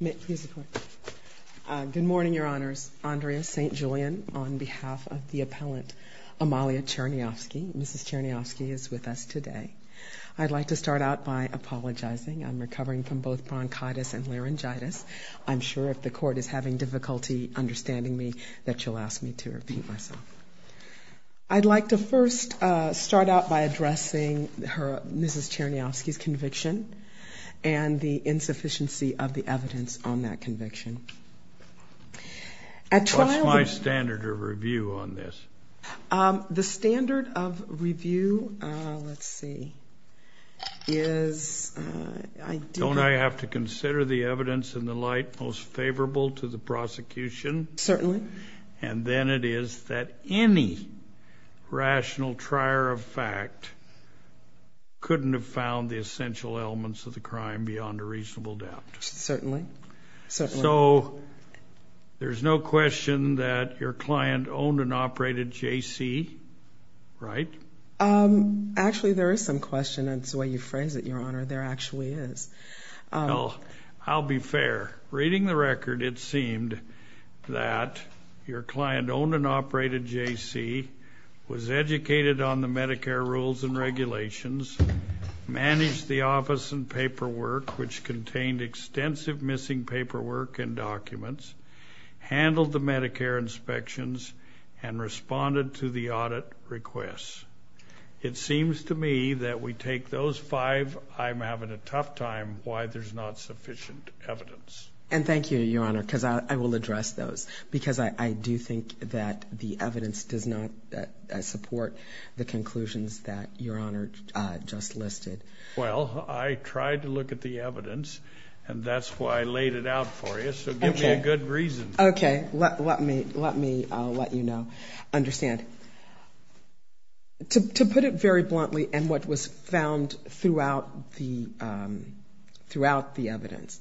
Ms. Cherniavsky is with us today. I'd like to start out by apologizing. I'm recovering from both bronchitis and laryngitis. I'm sure if the court is having difficulty understanding me that you'll ask me to repeat myself. I'd like to first start out by addressing Mrs. Cherniavsky's conviction and the insufficiency of the evidence on that conviction. What's my standard of review on this? The standard of review, let's see, is... Don't I have to consider the evidence in the light most favorable to the prosecution? Certainly. And then it is that any rational trier of fact couldn't have found the essential elements of the crime beyond a reasonable doubt. Certainly. So there's no question that your client owned and operated JC, right? Actually, there is some question. That's the way you phrase it, Your Honor. There actually is. Well, I'll be fair. Reading the record, it seemed that your client owned and operated JC, was educated on the Medicare rules and regulations, managed the office and paperwork, which contained extensive missing paperwork and documents, handled the Medicare inspections, and responded to the audit requests. It seems to me that we take those five, I'm having a tough time, why there's not sufficient evidence. And thank you, Your Honor, because I will address those, because I do think that the evidence does not support the conclusions that Your Honor just listed. Well, I tried to look at the evidence, and that's why I laid it out for you, so give me a good reason. Okay. Let me let you know, understand. To put it very bluntly, and what was found throughout the evidence,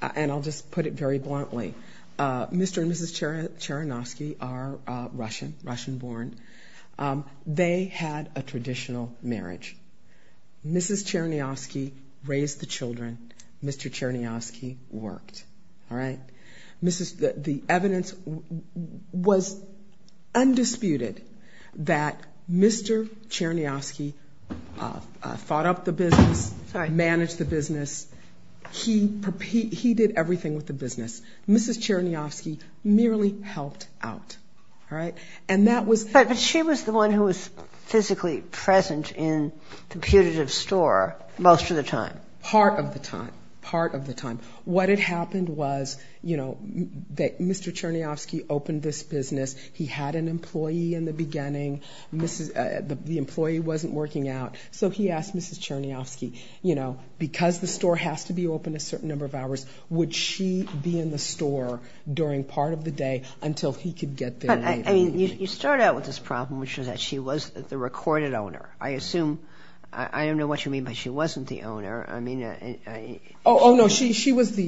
and I'll just put it very bluntly, Mr. and Mrs. Chernovsky are Russian, Russian born. They had a traditional marriage. Mrs. Chernovsky raised the children. The evidence was undisputed that Mr. Chernovsky thought up the business, managed the business. He did everything with the business. Mrs. Chernovsky merely helped out, all right? But she was the one who was physically present in the putative store most of the time. Part of the time. Part of the time. What had happened was, you know, that Mr. Chernovsky opened this business. He had an employee in the beginning. The employee wasn't working out. So he asked Mrs. Chernovsky, you know, because the store has to be open a certain number of hours, would she be in the store during part of the day until he could get there later? I mean, you start out with this problem, which is that she was the recorded owner. I assume, I don't know what you mean by she wasn't the owner. Oh, no, she was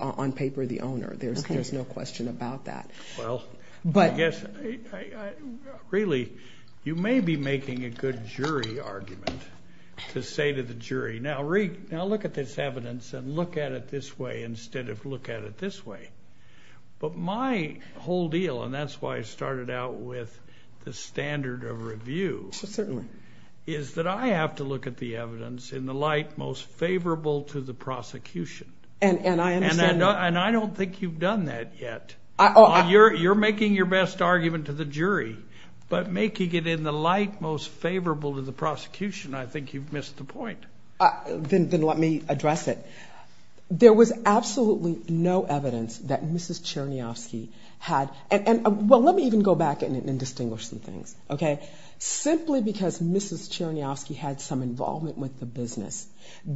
on paper the owner. There's no question about that. Well, I guess really you may be making a good jury argument to say to the jury, now look at this evidence and look at it this way instead of look at it this way. But my whole deal, and that's why I started out with the standard of review, is that I have to look at the evidence in the light most favorable to the prosecution. And I understand that. And I don't think you've done that yet. You're making your best argument to the jury, but making it in the light most favorable to the prosecution, I think you've missed the point. Then let me address it. There was absolutely no evidence that Mrs. Chernovsky had. Well, let me even go back and distinguish some things. Okay? Simply because Mrs. Chernovsky had some involvement with the business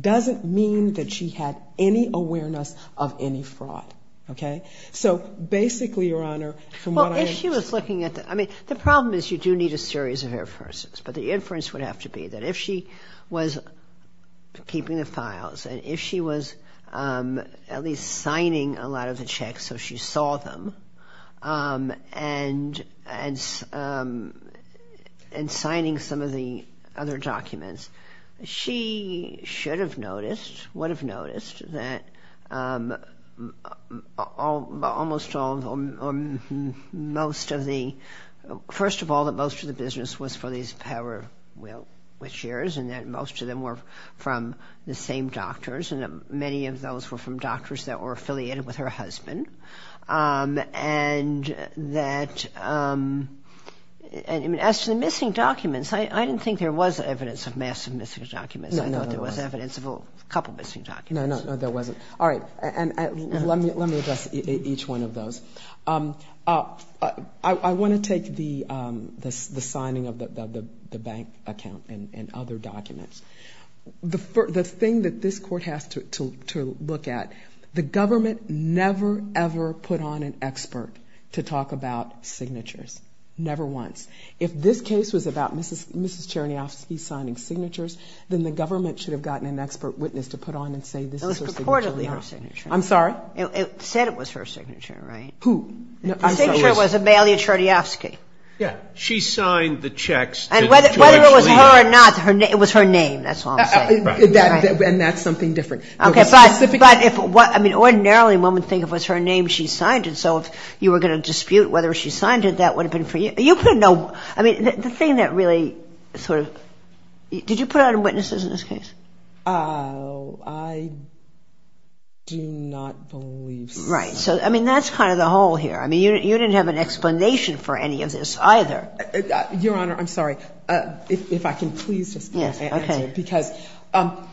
doesn't mean that she had any awareness of any fraud. Okay? So basically, Your Honor, from what I understand... Well, if she was looking at the... I mean, the problem is you do need a series of inferences. But the inference would have to be that if she was keeping the files and if she was at least signing a lot of the checks so she saw them and signing some of the other documents, she should have noticed, would have noticed, that almost all or most of the... First of all, that most of the business was for these power wheel shares and that most of them were from the same doctors and that many of those were from doctors that were affiliated with her husband. And that... As to the missing documents, I didn't think there was evidence of massive missing documents. No, no, there wasn't. I thought there was evidence of a couple missing documents. No, no, there wasn't. All right. And let me address each one of those. I want to take the signing of the bank account and other documents. The thing that this Court has to look at, the government never, ever put on an expert to talk about signatures. Never once. If this case was about Mrs. Cherniofsky signing signatures, then the government should have gotten an expert witness to put on and say this is her signature. It was purportedly her signature. I'm sorry? It said it was her signature, right? Who? The signature was Amalia Cherniofsky. Yeah. She signed the checks to actually... And whether it was her or not, it was her name. That's all I'm saying. Right. And that's something different. But ordinarily one would think if it was her name she signed it, so if you were going to dispute whether she signed it, that would have been for you. You put no... I mean, the thing that really sort of... Did you put on witnesses in this case? I do not believe so. Right. So, I mean, that's kind of the whole here. I mean, you didn't have an explanation for any of this either. Your Honor, I'm sorry. If I can please just answer. Yes, okay.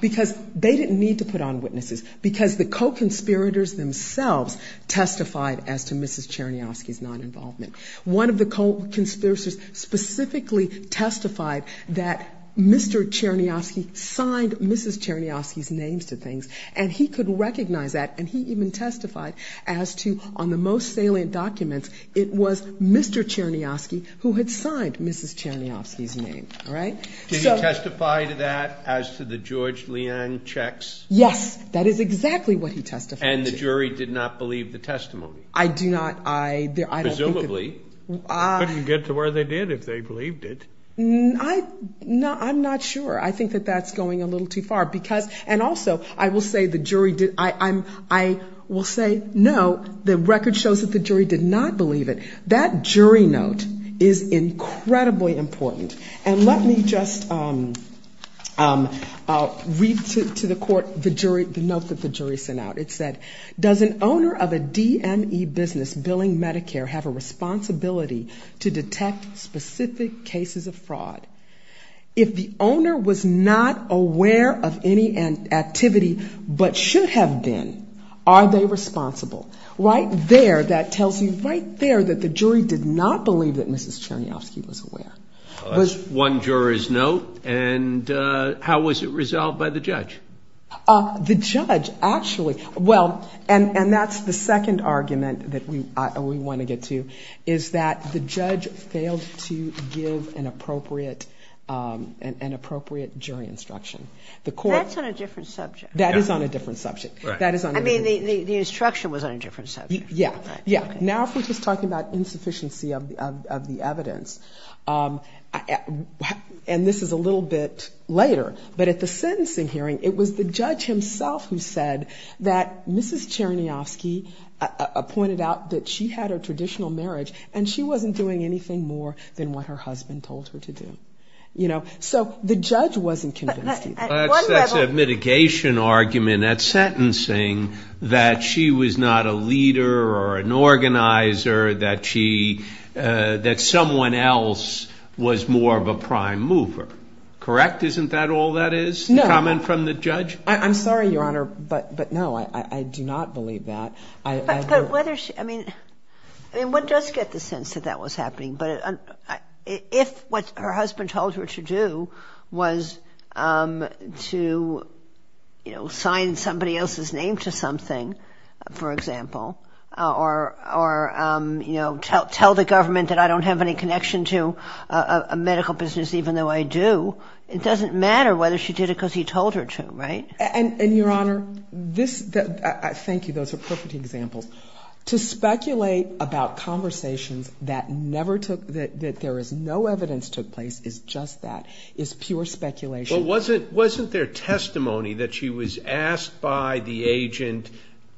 Because they didn't need to put on witnesses, because the co-conspirators themselves testified as to Mrs. Cherniofsky's non-involvement. One of the co-conspirators specifically testified that Mr. Cherniofsky signed Mrs. Cherniofsky's name to things, and he could recognize that, and he even testified as to on the most salient documents it was Mr. Cherniofsky who had signed Mrs. Cherniofsky's name, all right? Did he testify to that as to the George Liang checks? Yes, that is exactly what he testified to. And the jury did not believe the testimony? I do not. I don't think that... Presumably. Couldn't get to where they did if they believed it. No, I'm not sure. I think that that's going a little too far, because... And also, I will say the jury did... I will say, no, the record shows that the jury did not believe it. That jury note is incredibly important. And let me just read to the court the note that the jury sent out. It said, does an owner of a DME business billing Medicare have a responsibility to detect specific cases of fraud? If the owner was not aware of any activity but should have been, are they responsible? Right there, that tells you right there that the jury did not believe that was one juror's note, and how was it resolved by the judge? The judge actually... Well, and that's the second argument that we want to get to, is that the judge failed to give an appropriate jury instruction. That's on a different subject. That is on a different subject. I mean, the instruction was on a different subject. Yeah, yeah. Now if we're just talking about insufficiency of the evidence, and this is a little bit later, but at the sentencing hearing, it was the judge himself who said that Mrs. Chernyofsky pointed out that she had a traditional marriage and she wasn't doing anything more than what her husband told her to do. So the judge wasn't convinced either. That's a mitigation argument at sentencing that she was not a leader or an organizer, that she, that someone else was more of a prime mover. Correct? Isn't that all that is? No. A comment from the judge? I'm sorry, Your Honor, but no, I do not believe that. But whether she, I mean, one does get the sense that that was happening, but if what her husband told her to do was to, you know, sign somebody else's name to something, for example, or, you know, tell the government that I don't have any connection to a medical business even though I do, it doesn't matter whether she did it because he told her to, right? And, Your Honor, this, thank you, those are perfect examples. To speculate about conversations that never took, that there is no evidence took place is just that, is pure speculation. Well, wasn't there testimony that she was asked by the agent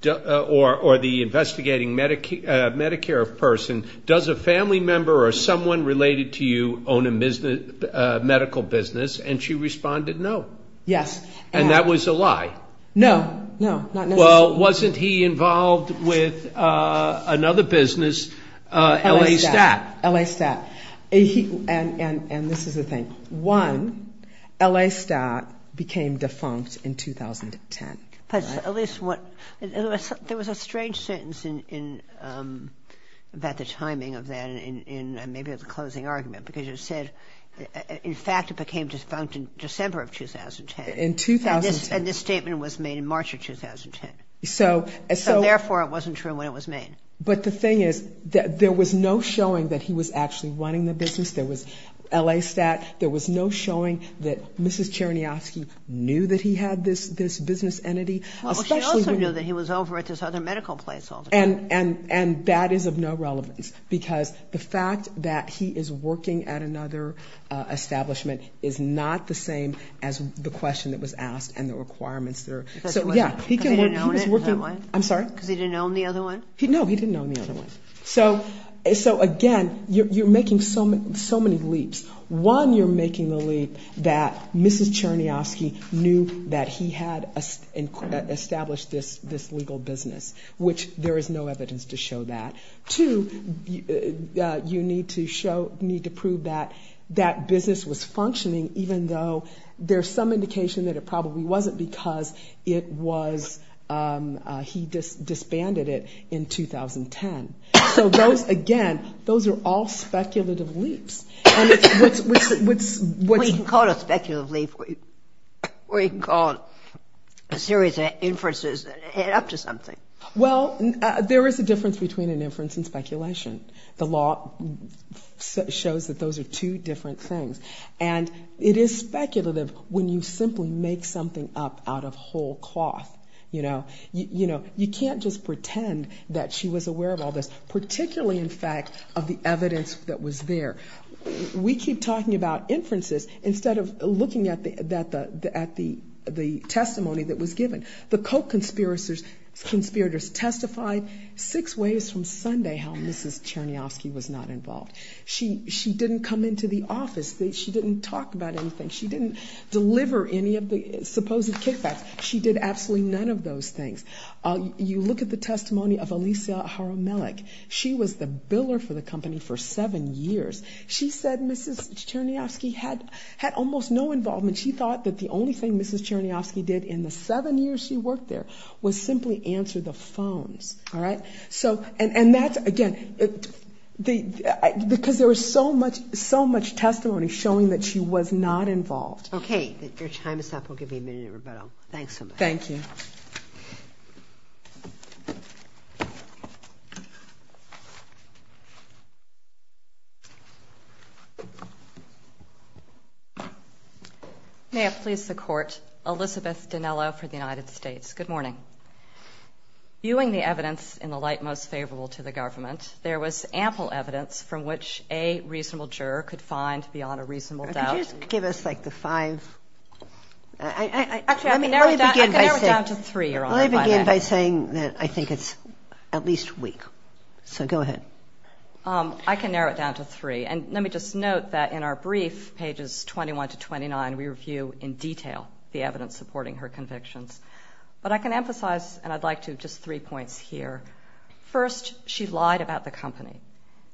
or the investigating Medicare person, does a family member or someone related to you own a medical business? And she responded no. Yes. And that was a lie. No, no, not necessarily. Well, wasn't he involved with another business, L.A. Stat? L.A. Stat. And this is the thing. One, L.A. Stat became defunct in 2010. But at least what, there was a strange sentence in, about the timing of that and maybe it was a closing argument because you said, in fact, it became defunct in December of 2010. In 2010. And this statement was made in March of 2010. So. So, therefore, it wasn't true when it was made. But the thing is, there was no showing that he was actually running the business. There was L.A. Stat. There was no showing that Mrs. Chernyavsky knew that he had this business entity. Well, she also knew that he was over at this other medical place all the time. And that is of no relevance because the fact that he is working at another establishment is not the same as the question that was asked and the requirements there. Because he didn't own it? I'm sorry? Because he didn't own the other one? No, he didn't own the other one. So, again, you're making so many leaps. One, you're making the leap that Mrs. Chernyavsky knew that he had established this legal business, which there is no evidence to show that. Two, you need to prove that that business was functioning even though there's some indication that it probably wasn't because he disbanded it in 2010. So, again, those are all speculative leaps. Well, you can call it a speculative leap, or you can call it a series of inferences that add up to something. Well, there is a difference between an inference and speculation. The law shows that those are two different things. And it is speculative when you simply make something up out of whole cloth. You know, you can't just pretend that she was aware of all this, particularly, in fact, of the evidence that was there. We keep talking about inferences instead of looking at the testimony that was given. The Koch conspirators testified six ways from Sunday how Mrs. Chernyavsky was not involved. She didn't come into the office. She didn't talk about anything. She didn't deliver any of the supposed kickbacks. She did absolutely none of those things. You look at the testimony of Alisa Haromelek. She was the biller for the company for seven years. She said Mrs. Chernyavsky had almost no involvement. She thought that the only thing Mrs. Chernyavsky did in the seven years she worked there was simply answer the phones, all right? And that's, again, because there was so much testimony showing that she was not involved. Okay. Your time is up. We'll give you a minute to rebuttal. Thanks so much. Thank you. May it please the Court, Elizabeth Dinello for the United States. Good morning. Viewing the evidence in the light most favorable to the government, there was ample evidence from which a reasonable juror could find beyond a reasonable doubt. Could you just give us, like, the five? Actually, let me narrow it down to three, Your Honor. Let me begin by saying that I think it's at least weak. So go ahead. I can narrow it down to three. And let me just note that in our brief, pages 21 to 29, we review in detail the evidence supporting her convictions. But I can emphasize, and I'd like to, just three points here. First, she lied about the company.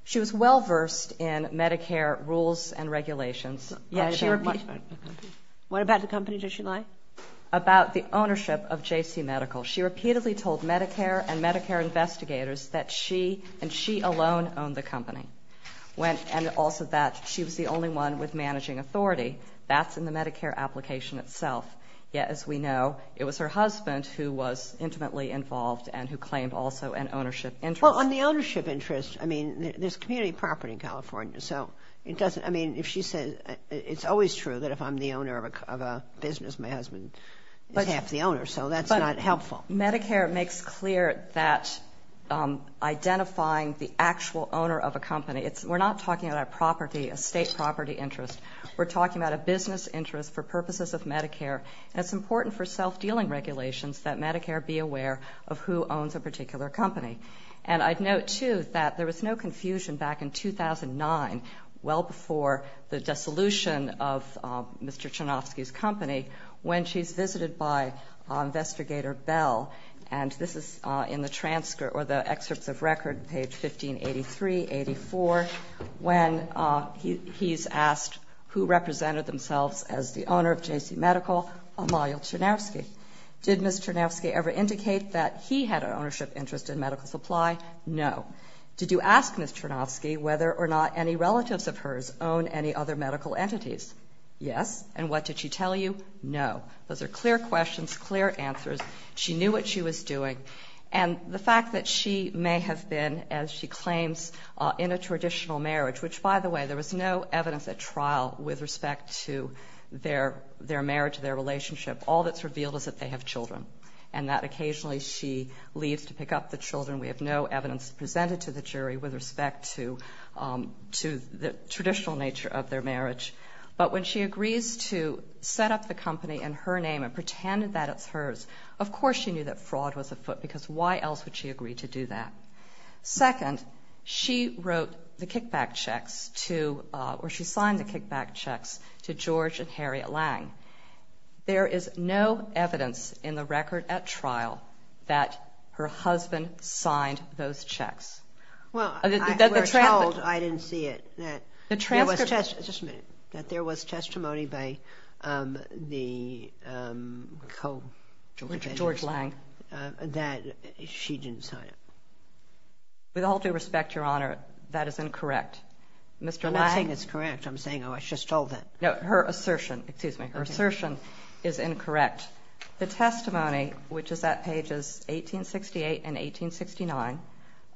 She was well-versed in Medicare rules and regulations. What about the company did she lie? About the ownership of JC Medical. She repeatedly told Medicare and Medicare investigators that she and she alone owned the company. And also that she was the only one with managing authority. That's in the Medicare application itself. Yet, as we know, it was her husband who was intimately involved and who claimed also an ownership interest. Well, on the ownership interest, I mean, there's community property in California. So it doesn't, I mean, if she says, it's always true that if I'm the owner of a business, my husband is half the owner. So that's not helpful. But Medicare makes clear that identifying the actual owner of a company, we're not talking about a property, a state property interest. We're talking about a business interest for purposes of Medicare. And it's important for self-dealing regulations that Medicare be aware of who owns a particular company. And I'd note, too, that there was no confusion back in 2009, well before the dissolution of Mr. Chernofsky's company, when she's visited by Investigator Bell. And this is in the transcript or the excerpts of record, page 1583-84, when he's asked who represented themselves as the owner of J.C. Medical, Amalya Chernofsky. Did Ms. Chernofsky ever indicate that he had an ownership interest in medical supply? No. Did you ask Ms. Chernofsky whether or not any relatives of hers own any other medical entities? Yes. And what did she tell you? No. Those are clear questions, clear answers. She knew what she was doing. And the fact that she may have been, as she claims, in a traditional marriage, which, by the way, there was no evidence at trial with respect to their marriage, their relationship, all that's revealed is that they have children and that occasionally she leaves to pick up the children. We have no evidence presented to the jury with respect to the traditional nature of their marriage. But when she agrees to set up the company in her name and pretend that it's hers, of course she knew that fraud was afoot because why else would she agree to do that? Second, she wrote the kickback checks to or she signed the kickback checks to George and Harriet Lange. There is no evidence in the record at trial that her husband signed those checks. Well, I didn't see it. Just a minute. That there was testimony by George Lange that she didn't sign it. With all due respect, Your Honor, that is incorrect. I'm not saying it's correct. I'm saying I was just told that. No, her assertion is incorrect. In fact, the testimony, which is at pages 1868 and 1869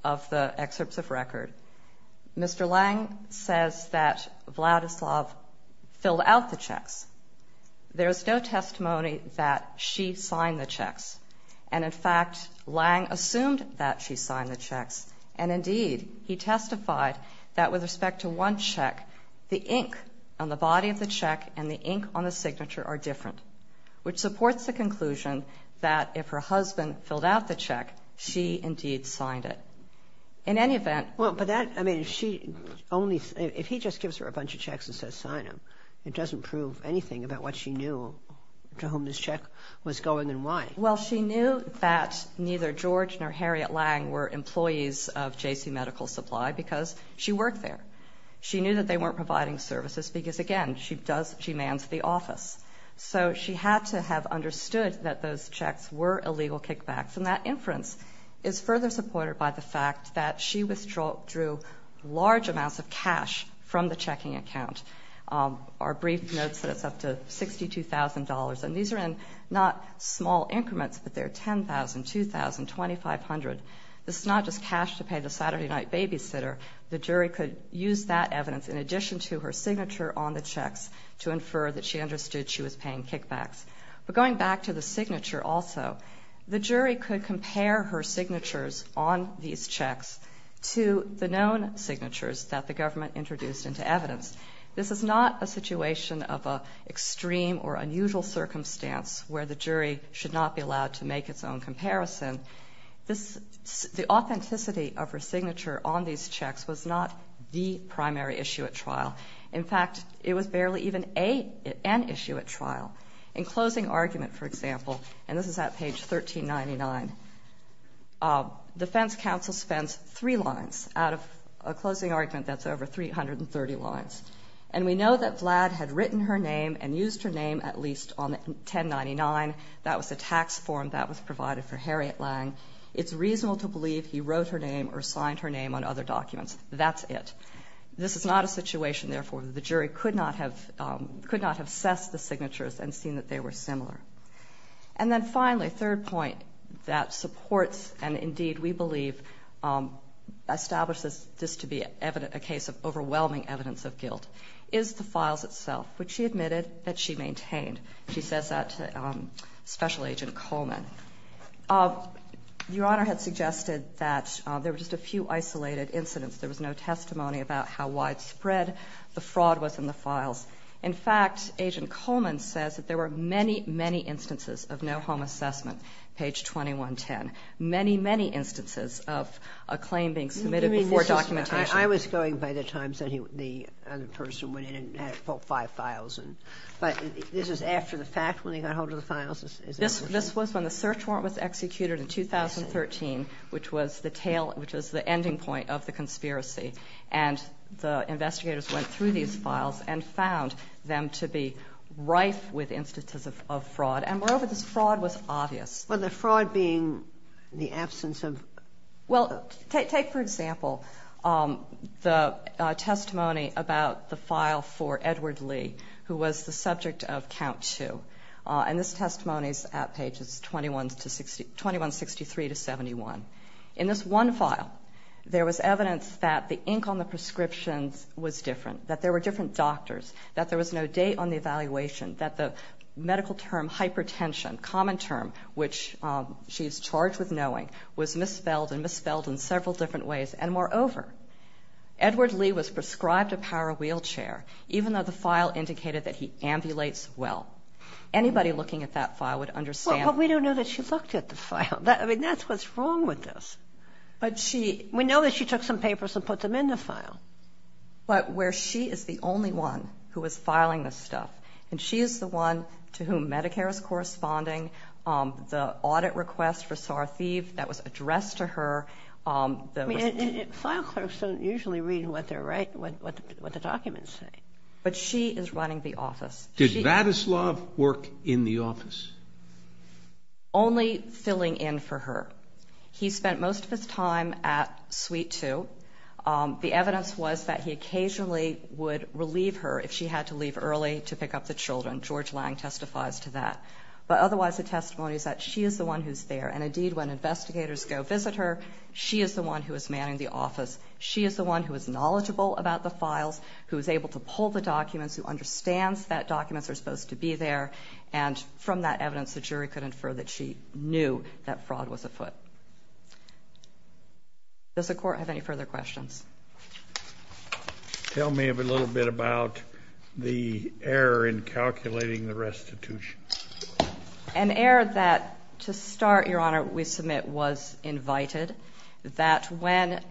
of the excerpts of record, Mr. Lange says that Vladislav filled out the checks. There is no testimony that she signed the checks. And, in fact, Lange assumed that she signed the checks. And, indeed, he testified that with respect to one check, the ink on the body of the check and the ink on the signature are different, which supports the conclusion that if her husband filled out the check, she indeed signed it. In any event. Well, but that, I mean, if she only, if he just gives her a bunch of checks and says sign them, it doesn't prove anything about what she knew to whom this check was going and why. Well, she knew that neither George nor Harriet Lange were employees of J.C. Medical Supply because she worked there. She knew that they weren't providing services because, again, she does, she mans the office. So she had to have understood that those checks were illegal kickbacks. And that inference is further supported by the fact that she withdrew large amounts of cash from the checking account. Our brief notes that it's up to $62,000, and these are in not small increments, but they're $10,000, $2,000, $2,500. This is not just cash to pay the Saturday night babysitter. The jury could use that evidence in addition to her signature on the checks to infer that she understood she was paying kickbacks. But going back to the signature also, the jury could compare her signatures on these checks to the known signatures that the government introduced into evidence. This is not a situation of an extreme or unusual circumstance where the jury should not be allowed to make its own comparison. The authenticity of her signature on these checks was not the primary issue at trial. In fact, it was barely even an issue at trial. In closing argument, for example, and this is at page 1399, defense counsel spends three lines out of a closing argument that's over 330 lines. And we know that Vlad had written her name and used her name at least on 1099. That was a tax form that was provided for Harriet Lange. It's reasonable to believe he wrote her name or signed her name on other documents. That's it. This is not a situation, therefore, the jury could not have assessed the signatures and seen that they were similar. And then finally, third point that supports and indeed we believe establishes this to be a case of overwhelming evidence of guilt is the files itself, which she admitted that she maintained. She says that to Special Agent Coleman. Your Honor had suggested that there were just a few isolated incidents. There was no testimony about how widespread the fraud was in the files. In fact, Agent Coleman says that there were many, many instances of no home assessment, page 2110. Many, many instances of a claim being submitted before documentation. I was going by the times that the other person went in and had 5,000. But this is after the fact when they got hold of the files? This was when the search warrant was executed in 2013, which was the ending point of the conspiracy. And the investigators went through these files and found them to be rife with instances of fraud. And moreover, this fraud was obvious. Well, the fraud being the absence of? Well, take for example the testimony about the file for Edward Lee, who was the subject of count two. And this testimony is at pages 2163 to 71. In this one file there was evidence that the ink on the prescriptions was different, that there were different doctors, that there was no date on the evaluation, that the medical term hypertension, common term, which she is charged with knowing, was misspelled and misspelled in several different ways. And moreover, Edward Lee was prescribed a power wheelchair, even though the file indicated that he ambulates well. Anybody looking at that file would understand. Well, but we don't know that she looked at the file. I mean, that's what's wrong with this. But she? We know that she took some papers and put them in the file. But where she is the only one who is filing this stuff, and she is the one to whom Medicare is corresponding, the audit request for Sartheev that was addressed to her. File clerks don't usually read what they write, what the documents say. But she is running the office. Did Vadoslav work in the office? Only filling in for her. He spent most of his time at suite two. The evidence was that he occasionally would relieve her if she had to leave early to pick up the children. George Lang testifies to that. But otherwise the testimony is that she is the one who is there. And, indeed, when investigators go visit her, she is the one who is manning the office. She is the one who is knowledgeable about the files, who is able to pull the documents, who understands that documents are supposed to be there. And from that evidence, the jury could infer that she knew that fraud was afoot. Does the Court have any further questions? Tell me a little bit about the error in calculating the restitution. An error that, to start, Your Honor, we submit was invited, that when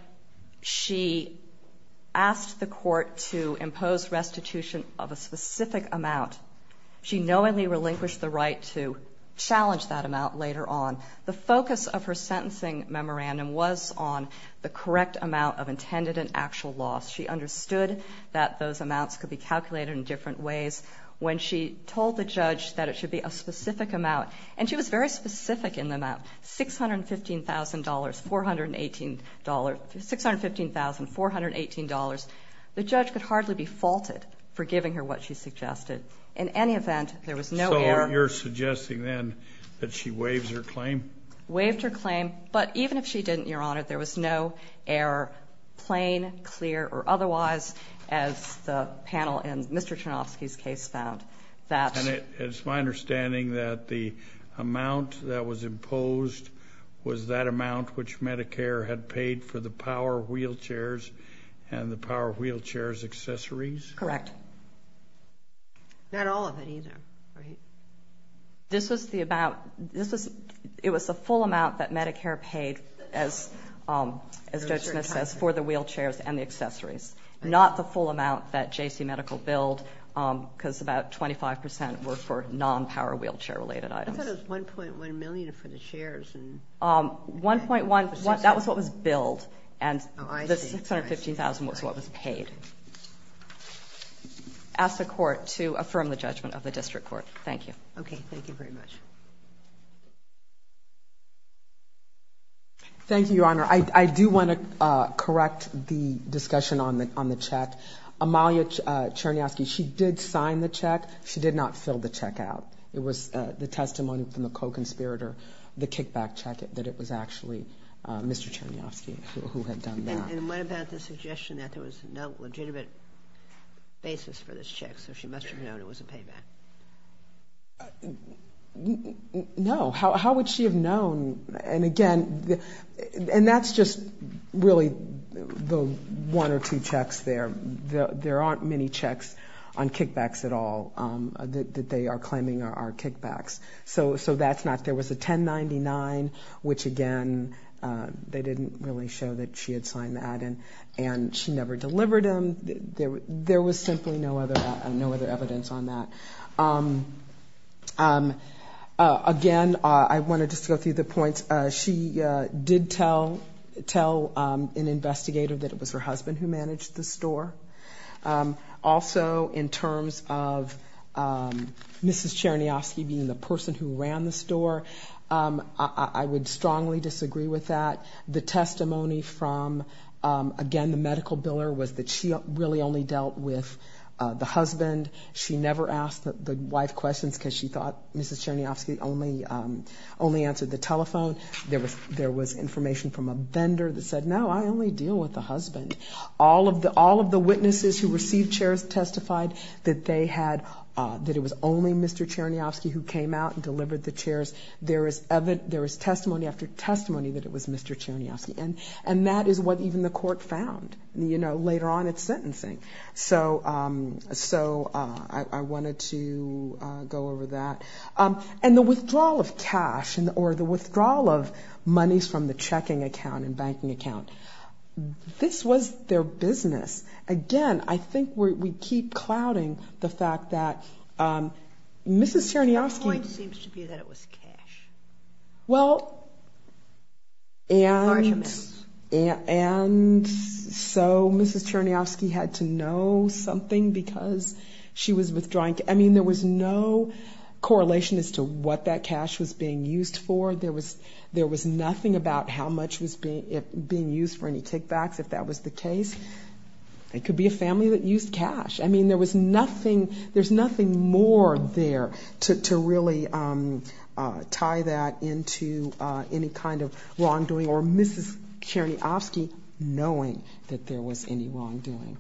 she asked the Court to impose restitution of a specific amount, she knowingly relinquished the right to challenge that amount later on. The focus of her sentencing memorandum was on the correct amount of intended and actual loss. She understood that those amounts could be calculated in different ways. When she told the judge that it should be a specific amount, and she was very specific in the amount, $615,418, the judge could hardly be faulted for giving her what she suggested. In any event, there was no error. So you're suggesting, then, that she waived her claim? Waived her claim. But even if she didn't, Your Honor, there was no error, plain, clear, or otherwise, as the panel in Mr. Chernofsky's case found. It's my understanding that the amount that was imposed was that amount which Medicare had paid for the power wheelchairs and the power wheelchairs' accessories? Correct. Not all of it, either. It was the full amount that Medicare paid, as Judge Smith says, for the wheelchairs and the accessories, not the full amount that J.C. Medical billed, because about 25% were for non-power wheelchair-related items. I thought it was $1.1 million for the chairs. $1.1 million, that was what was billed, and the $615,000 was what was paid. I ask the Court to affirm the judgment of the District Court. Okay, thank you very much. Thank you, Your Honor. I do want to correct the discussion on the check. Amalia Chernofsky, she did sign the check. She did not fill the check out. It was the testimony from the co-conspirator, the kickback check, that it was actually Mr. Chernofsky who had done that. And what about the suggestion that there was no legitimate basis for this check, so she must have known it was a payback? No. How would she have known? And, again, and that's just really the one or two checks there. There aren't many checks on kickbacks at all that they are claiming are kickbacks. So that's not, there was a $1099, which, again, they didn't really show that she had signed that, and she never delivered them. There was simply no other evidence on that. Again, I want to just go through the points. She did tell an investigator that it was her husband who managed the store. Also, in terms of Mrs. Chernofsky being the person who ran the store, I would strongly disagree with that. The testimony from, again, the medical biller, was that she really only dealt with the husband. She never asked the wife questions because she thought Mrs. Chernofsky only answered the telephone. There was information from a vendor that said, no, I only deal with the husband. All of the witnesses who received chairs testified that they had, that it was only Mr. Chernofsky who came out and delivered the chairs. There was testimony after testimony that it was Mr. Chernofsky. And that is what even the court found, you know, later on at sentencing. So I wanted to go over that. And the withdrawal of cash, or the withdrawal of monies from the checking account and banking account, this was their business. Again, I think we keep clouding the fact that Mrs. Chernofsky... The point seems to be that it was cash. Well, and... Large amounts. And so Mrs. Chernofsky had to know something because she was withdrawing cash. I mean, there was no correlation as to what that cash was being used for. There was nothing about how much was being used for any kickbacks, if that was the case. It could be a family that used cash. I mean, there was nothing, there's nothing more there to really tie that into any kind of wrongdoing. Or Mrs. Chernofsky knowing that there was any wrongdoing.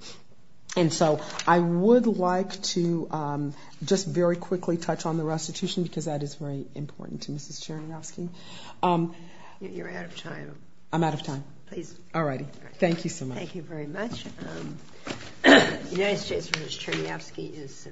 And so I would like to just very quickly touch on the restitution because that is very important to Mrs. Chernofsky. You're out of time. I'm out of time. Please. All righty. Thank you so much. Thank you very much. United States vs. Chernofsky is...